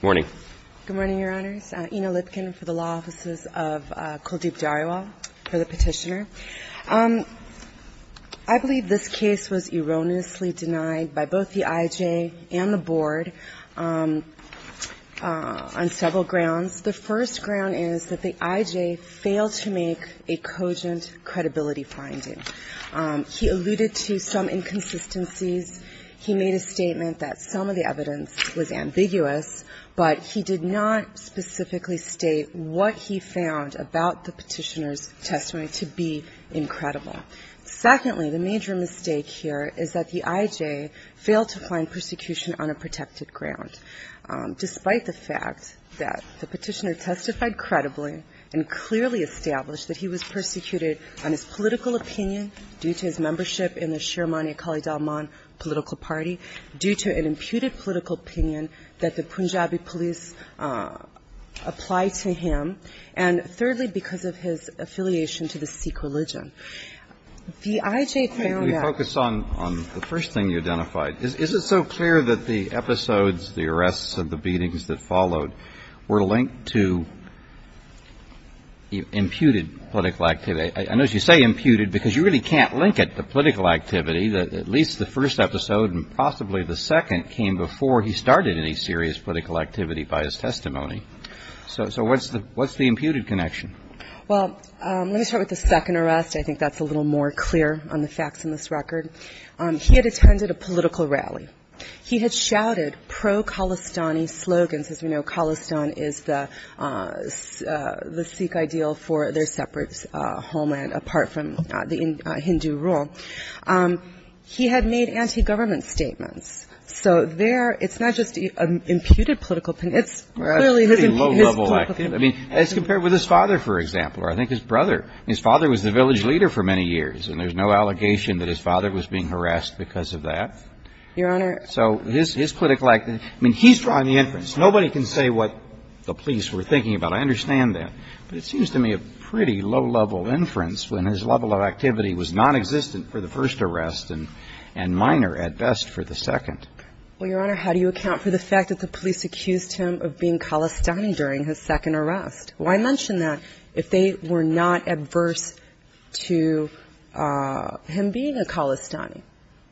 Good morning, Your Honors. Ina Lipkin for the Law Offices of Kuldeep Dhariawal for the Petitioner. I believe this case was erroneously denied by both the IJ and the Board on several grounds. The first ground is that the IJ failed to make a cogent credibility finding. He alluded to some inconsistencies. He made a statement that some of the evidence was ambiguous, but he did not specifically state what he found about the Petitioner's testimony to be incredible. Secondly, the major mistake here is that the IJ failed to find persecution on a protected ground. Despite the fact that the Petitioner testified credibly and clearly established that he was persecuted on his political opinion due to his membership in the Shiremani Akali Dalman political party, due to an imputed political opinion that the Punjabi police applied to him. And thirdly, because of his affiliation to the Sikh religion. The IJ found that the arrests and the beatings that followed were linked to imputed political activity. I notice you say imputed because you really can't link it to political activity. At least the first episode and possibly the second came before he started any serious political activity by his testimony. So what's the imputed connection? Well, let me start with the second arrest. I think that's a little more clear on the facts in this record. He had attended a political rally. He had shouted pro-Khalistani slogans. As we know, Khalistan is the Sikh ideal for their separate homeland, apart from the Hindu rule. He had made anti-government statements. So there, it's not just an imputed political opinion, it's clearly his political opinion. It's compared with his father, for example, or I think his brother. His father was the village leader for many years, and there's no allegation that his father was being harassed because of that. Your Honor So his political activity, I mean, he's drawing the inference. Nobody can say what the police were thinking about. I understand that. But it seems to me a pretty low-level inference when his level of activity was nonexistent for the first arrest and minor, at best, for the second. Well, Your Honor, how do you account for the fact that the police accused him of being Khalistani during his second arrest? Why mention that if they were not adverse to him being a Khalistani?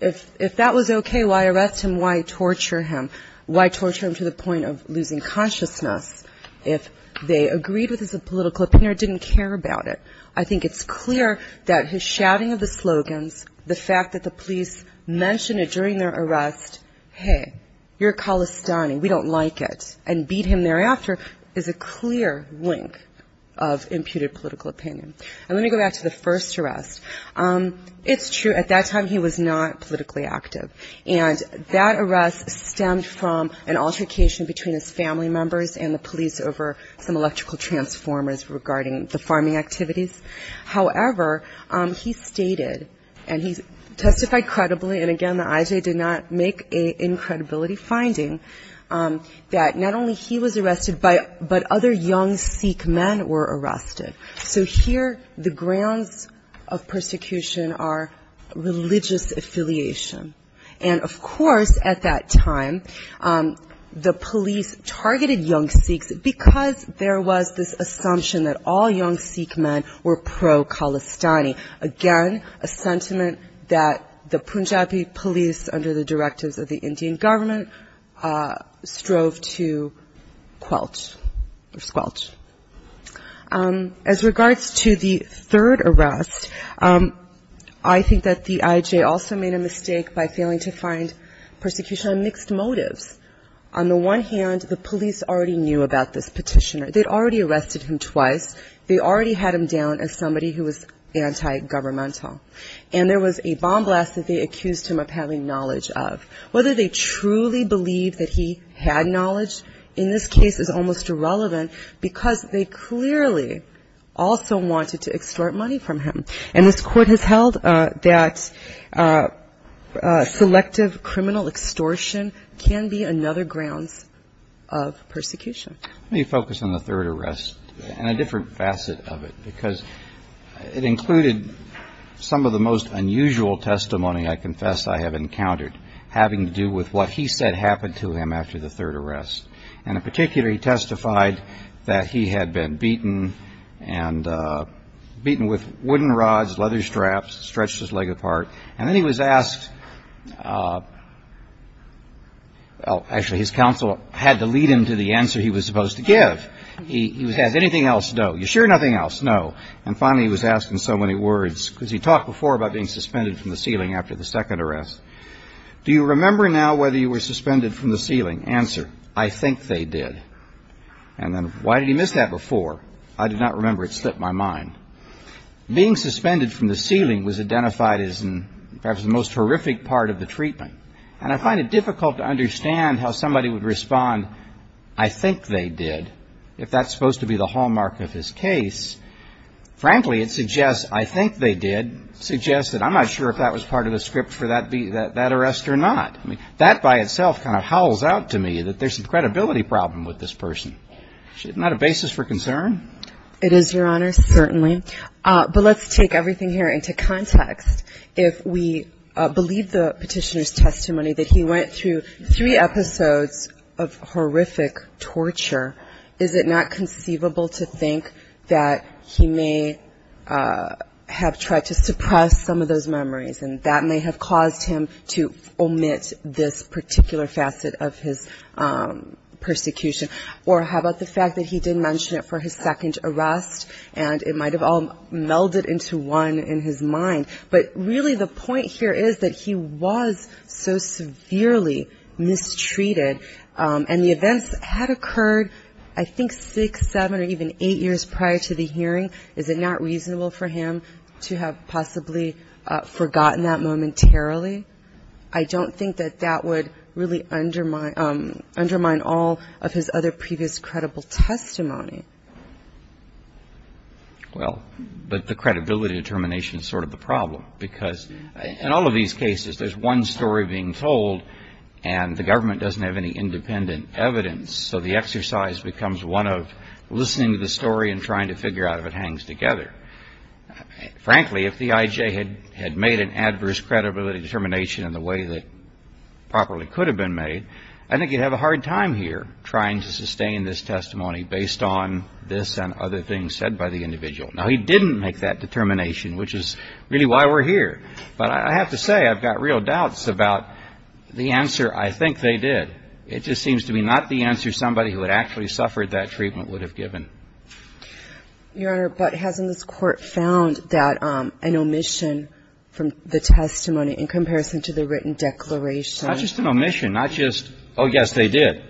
If that was okay, why arrest him? Why torture him? Why torture him to the point of losing consciousness if they agreed with his political opinion or didn't care about it? I think it's clear that his shouting of the slogans, the fact that the police mentioned it during their arrest, hey, you're a Khalistani, we don't like it, and beat him thereafter, is a clear warning. It's a blink of imputed political opinion. I'm going to go back to the first arrest. It's true, at that time he was not politically active. And that arrest stemmed from an altercation between his family members and the police over some electrical transformers regarding the farming activities. However, he stated, and he testified credibly, and again, the IJA did not make an incredibility finding, that not only he was arrested, but other young Sikh men were arrested. So here, the grounds of persecution are religious affiliation. And of course, at that time, the police targeted young Sikhs because there was this assumption that all young Sikh men were pro-Khalistani. Again, a sentiment that the Punjabi police, under the directives of the Indian government, strove to squelch. As regards to the third arrest, I think that the IJA also made a mistake by failing to find persecution on mixed motives. On the one hand, the police already knew about this petitioner. They'd already arrested him twice. They already had him down as somebody who was anti-governmental. And there was a bomb blast that they accused him of having knowledge of. Whether they truly believed that he had knowledge in this case is almost irrelevant, because they clearly also wanted to extort money from him. And this Court has held that selective criminal extortion can be another grounds of persecution. Let me focus on the third arrest and a different facet of it, because it included some of the other grounds of persecution. Some of the most unusual testimony, I confess, I have encountered, having to do with what he said happened to him after the third arrest. And in particular, he testified that he had been beaten with wooden rods, leather straps, stretched his leg apart. And then he was asked, well, actually his counsel had to lead him to the answer he was supposed to give. He was asked, anything else? No. You sure nothing else? No. He was asked before about being suspended from the ceiling after the second arrest. Do you remember now whether you were suspended from the ceiling? Answer, I think they did. And then, why did he miss that before? I do not remember. It slipped my mind. Being suspended from the ceiling was identified as perhaps the most horrific part of the treatment. And I find it difficult to understand how somebody would respond, I think they did, if that's supposed to be the hallmark of his case. Frankly, it suggests, I think they did, suggests that I'm not sure if that was part of the script for that arrest or not. That by itself kind of howls out to me that there's a credibility problem with this person. Isn't that a basis for concern? It is, Your Honor, certainly. But let's take everything here into context. If we believe the petitioner's testimony that he went through three episodes of horrific torture, is it not conceivable to think that he may have tried to suppress some of those memories and that may have caused him to omit this particular facet of his persecution? Or how about the fact that he did mention it for his second arrest and it might have all melded into one in his mind. But really the point here is that he was so severely mistreated and the events had occurred that he was not able to I think six, seven or even eight years prior to the hearing, is it not reasonable for him to have possibly forgotten that momentarily? I don't think that that would really undermine all of his other previous credible testimony. Well, but the credibility determination is sort of the problem because in all of these cases there's one story being told and the government doesn't have any independent evidence, so the exercise becomes one of listening to the story and trying to figure out if it hangs together. Frankly, if the IJ had made an adverse credibility determination in the way that properly could have been made, I think he'd have a hard time here trying to sustain this testimony based on this and other things said by the individual. Now, he didn't make that determination, which is really why we're here. But I have to say I've got real doubts about the answer I think they did. It just seems to be not the answer somebody who had actually suffered that treatment would have given. Your Honor, but hasn't this Court found that an omission from the testimony in comparison to the written declaration? Not just an omission, not just, oh, yes, they did.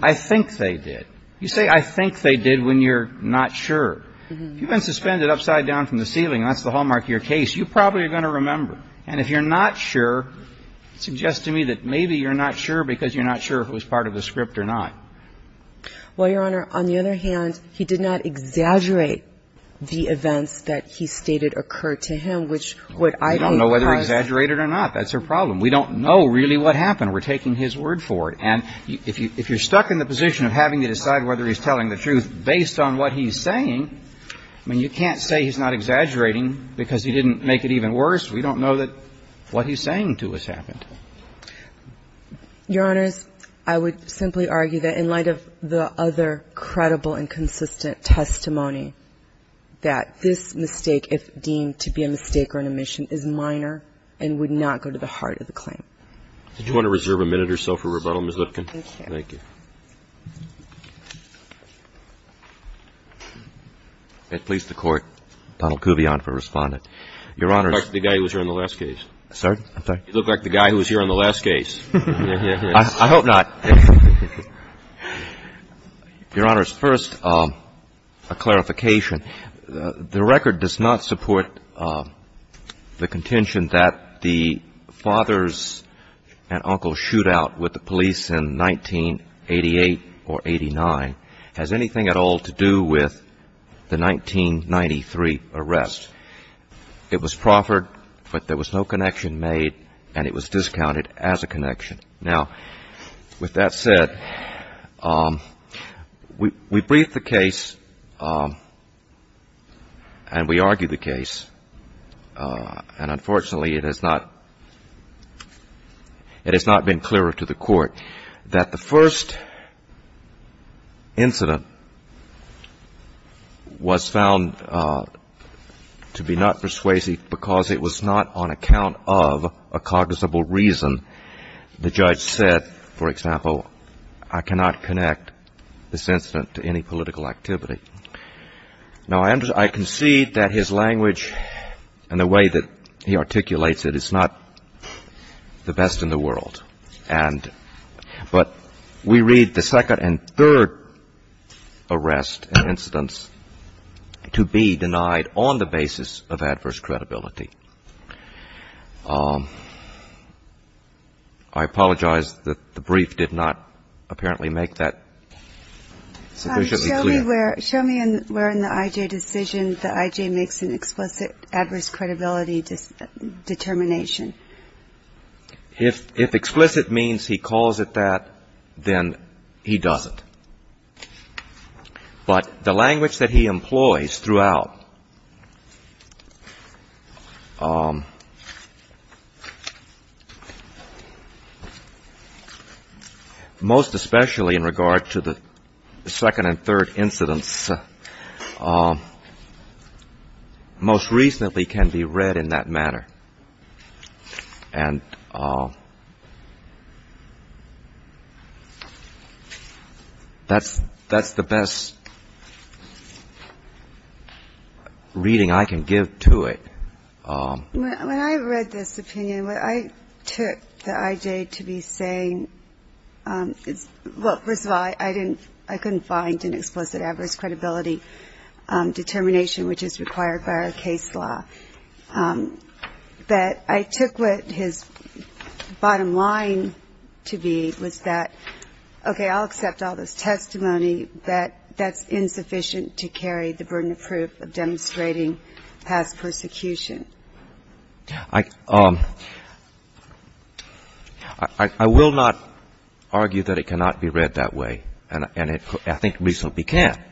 I think they did. You say I think they did when you're not sure. If you've been suspended upside down from the ceiling, and that's the hallmark of your case, you probably are going to remember. And if you're not sure, it suggests to me that maybe you're not sure because you're not sure if it was part of the script or not. Well, Your Honor, on the other hand, he did not exaggerate the events that he stated occurred to him, which what I think was the case. We don't know whether he exaggerated or not. That's our problem. We don't know really what happened. We're taking his word for it. And if you're stuck in the position of having to decide whether he's telling the truth based on what he's saying, I mean, you can't say he's not exaggerating because he didn't make it even worse. We don't know that what he's saying to us happened. Your Honors, I would simply argue that in light of the other credible and consistent testimony that this mistake, if deemed to be a mistake or an omission, is minor and would not go to the heart of the claim. Did you want to reserve a minute or so for rebuttal, Ms. Lipkin? Thank you. I'd please the Court. Donald Kuvion for Respondent. Your Honors. You look like the guy who was here on the last case. I hope not. Your Honors, first, a clarification. The record does not support the contention that the father's and uncle's shootout with the police in 1988 or 89 has anything at all to do with the 1993 arrest. It was proffered, but there was no connection made, and it was discounted as a connection. Now, with that said, we briefed the case and we argued the case, and unfortunately, it has not been clearer to the public. I would like to remind the Court that the first incident was found to be not persuasive because it was not on account of a cognizable reason. The judge said, for example, I cannot connect this incident to any political activity. Now, I concede that his language and the way that he articulates it is not the best in the world. And but we read the second and third arrest and incidents to be denied on the basis of adverse credibility. I apologize that the brief did not apparently make that sufficiently clear. Show me where in the I.J. decision the I.J. makes an explicit adverse credibility determination. If explicit means he calls it that, then he doesn't. But the language that he employs throughout, most especially in regard to the second and third incidents, most reasonably can be read in that manner. And that's the best reading I can give to it. When I read this opinion, what I took the I.J. to be saying is, well, first of all, I couldn't find an explicit adverse credibility determination, which is required by our case law. But I took what his bottom line to be was that, okay, I'll accept all this testimony, but that's insufficient to carry the burden of proof of demonstrating past persecution. I will not argue that it cannot be read that way. And I think reasonably can.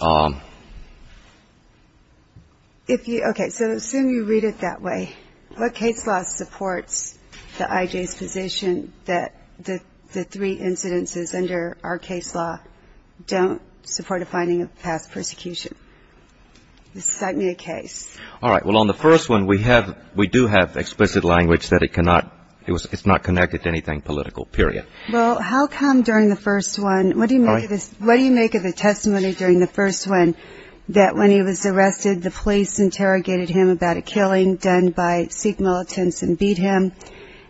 Okay. So assume you read it that way. What case law supports the I.J.'s position that the three incidences under our case law don't support a finding of past persecution? Cite me a case. All right. Well, on the first one, we do have explicit language that it's not connected to anything political, period. And I think it's important to note in the testimony during the first one that when he was arrested, the police interrogated him about a killing done by Sikh militants and beat him,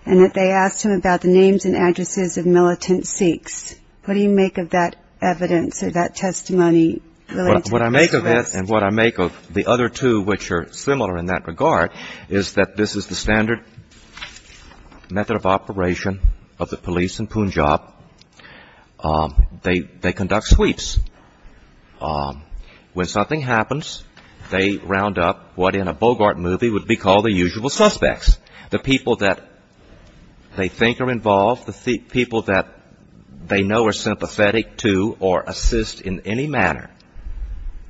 and that they asked him about the names and addresses of militant Sikhs. What do you make of that evidence or that testimony related to the arrest? What I make of that and what I make of the other two, which are similar in that regard, is that this is the standard method of operation of the police in Punjab. They conduct sweeps. When something happens, they round up what in a Bogart movie would be called the usual suspects, the people that they think are involved, the people that they know are sympathetic to or assist in any manner,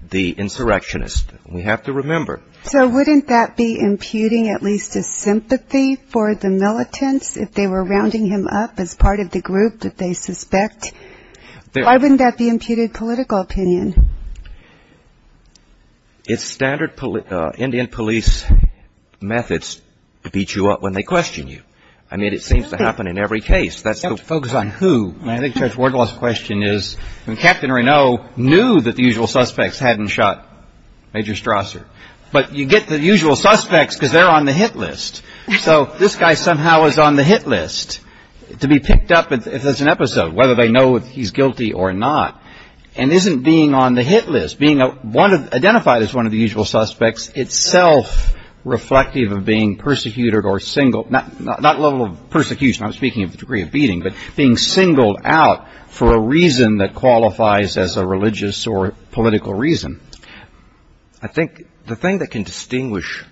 the insurrectionists. We have to remember. So wouldn't that be imputing at least a sympathy for the militants if they were rounding him up as part of the group that they suspect? It's standard Indian police methods to beat you up when they question you. I mean, it seems to happen in every case. You have to focus on who. I think Judge Wardlaw's question is when Captain Renaud knew that the usual suspects hadn't shot Major Strasser. But you get the usual suspects because they're on the hit list. So this guy somehow is on the hit list to be picked up if there's an episode, whether they know if he's guilty or not. And isn't being on the hit list, being identified as one of the usual suspects itself reflective of being persecuted or singled, not level of persecution, I'm speaking of the degree of beating, but being singled out for a reason that qualifies as a religious or political reason? I think the thing that can distinguish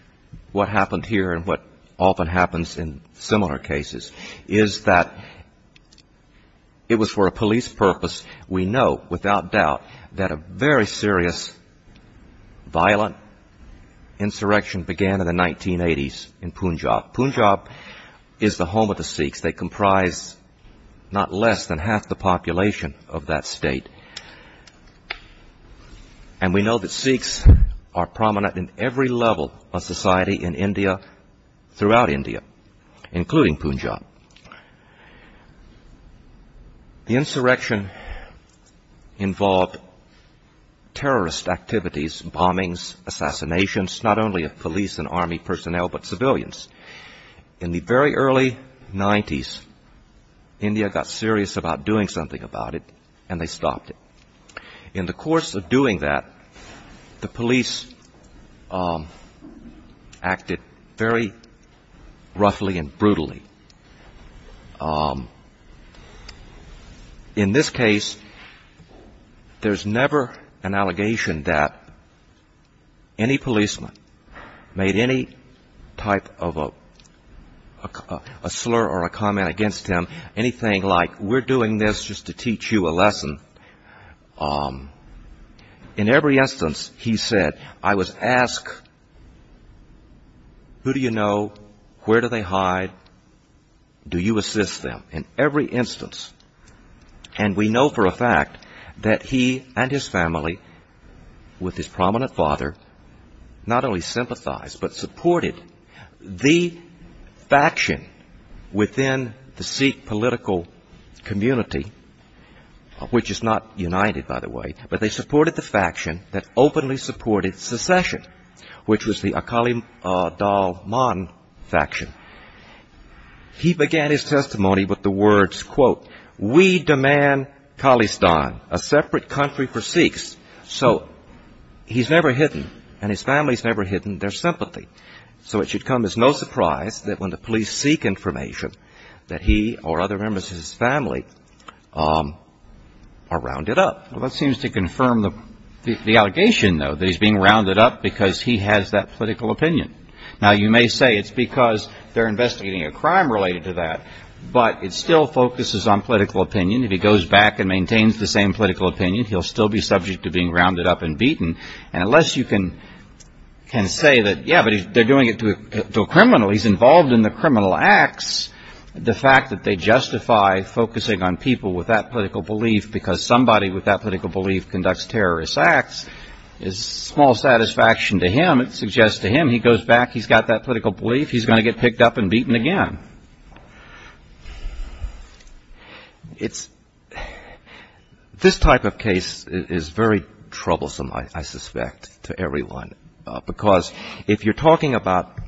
what happened here and what often happens in similar cases is that it was for a police purpose, we know. But without doubt that a very serious, violent insurrection began in the 1980s in Punjab. Punjab is the home of the Sikhs. They comprise not less than half the population of that state. And we know that Sikhs are prominent in every level of society in India, throughout India, including Punjab. The insurrection involved terrorist activities, bombings, assassinations, not only of police and army personnel, but civilians. In the very early 90s, India got serious about doing something about it, and they stopped it. In the course of doing that, the police acted very roughly and brutally. In this case, there's never an allegation that any policeman made any type of a slur or a comment against him, anything like, we're doing this just to teach you a lesson. In every instance, he said, I was asked, who do you know, where do they hide, what do they do? Do you assist them? In every instance. And we know for a fact that he and his family, with his prominent father, not only sympathized, but supported the faction within the Sikh political community, which is not united, by the way, but they supported the faction that openly supported secession, which was the Akali Dalman faction. He began his testimony with the words, quote, we demand Khalistan, a separate country for Sikhs. So he's never hidden, and his family's never hidden their sympathy. So it should come as no surprise that when the police seek information, that he or other members of his family are rounded up. Well, that seems to confirm the allegation, though, that he's being rounded up because he has that political opinion. Now, you may say it's because they're investigating a crime related to that, but it still focuses on political opinion. If he goes back and maintains the same political opinion, he'll still be subject to being rounded up and beaten. And unless you can say that, yeah, but they're doing it to a criminal, he's involved in the criminal acts, the fact that they justify focusing on people with that political belief, because somebody with that political belief conducts terrorist acts, is small satisfaction to him. He goes back, he's got that political belief, he's going to get picked up and beaten again. This type of case is very troublesome, I suspect, to everyone, because if you're talking about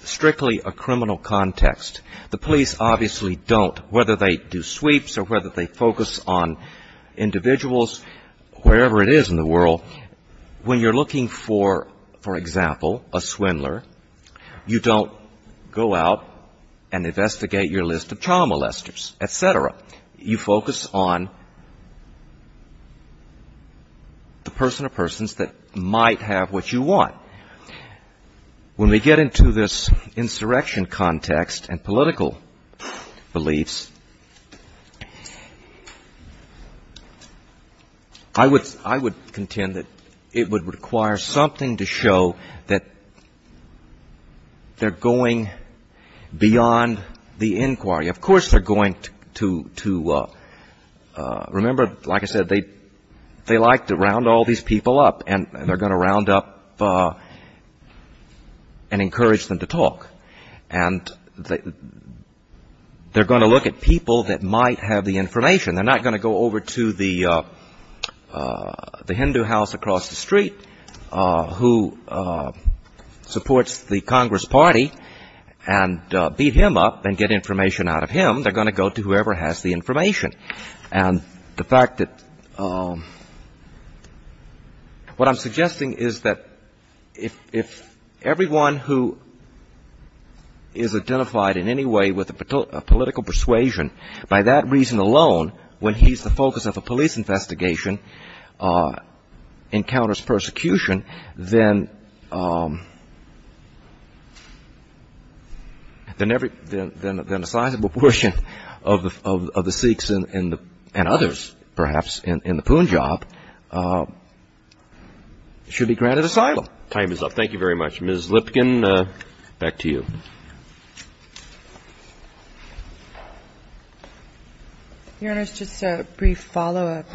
strictly a criminal context, the police obviously don't, whether they do sweeps or whether they focus on individuals, wherever it is in the world. When you're looking for, for example, a swindler, you don't go out and investigate your list of child molesters, et cetera. You focus on the person or persons that might have what you want. When we get into this insurrection context and political beliefs, I would contend that there's a lot more to it than that. It would require something to show that they're going beyond the inquiry. Of course they're going to, remember, like I said, they like to round all these people up, and they're going to round up and encourage them to talk. And they're going to look at people that might have the information. They're not going to go over to the Hindu house across the street who supports the Congress Party and beat him up and get information out of him. They're going to go to whoever has the information. And the fact that, what I'm suggesting is that if everyone who is identified in any way with a political persuasion, by that reason alone, they're going And if the person, when he's the focus of a police investigation, encounters persecution, then every, then a sizable portion of the Sikhs and others, perhaps, in the Punjab, should be granted asylum. Thank you very much. Ms. Lipkin, back to you. Your Honor, just a brief follow-up.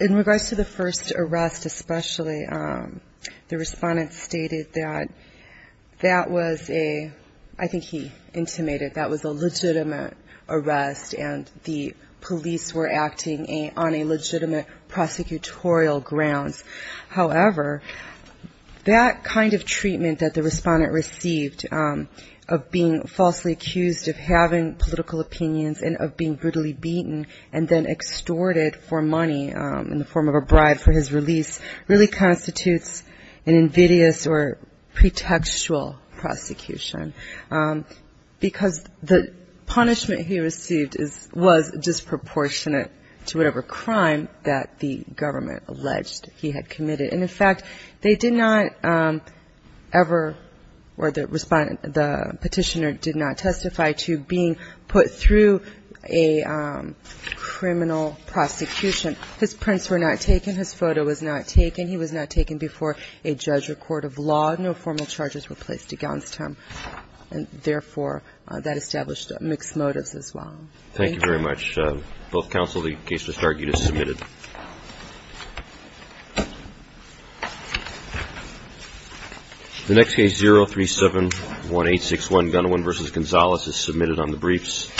In regards to the first arrest especially, the Respondent stated that that was a, I think he intimated, that was a legitimate arrest, and the police were acting on a legitimate prosecutorial grounds. However, that kind of treatment that the Respondent received of being falsely accused of having political opinions and of being brutally beaten and then extorted for money in the form of a bribe for his release really constitutes an invidious or pretextual prosecution. Because the punishment he received was disproportionate to whatever crime that the government alleged he had committed. And in fact, they did not ever, or the Petitioner did not testify to being put through a criminal prosecution. His prints were not taken, his photo was not taken, he was not taken before a judge or court of law. No formal charges were placed against him, and therefore, that established mixed motives as well. Thank you very much. The next case, 0371861, Gunawan v. Gonzalez, is submitted on the briefs.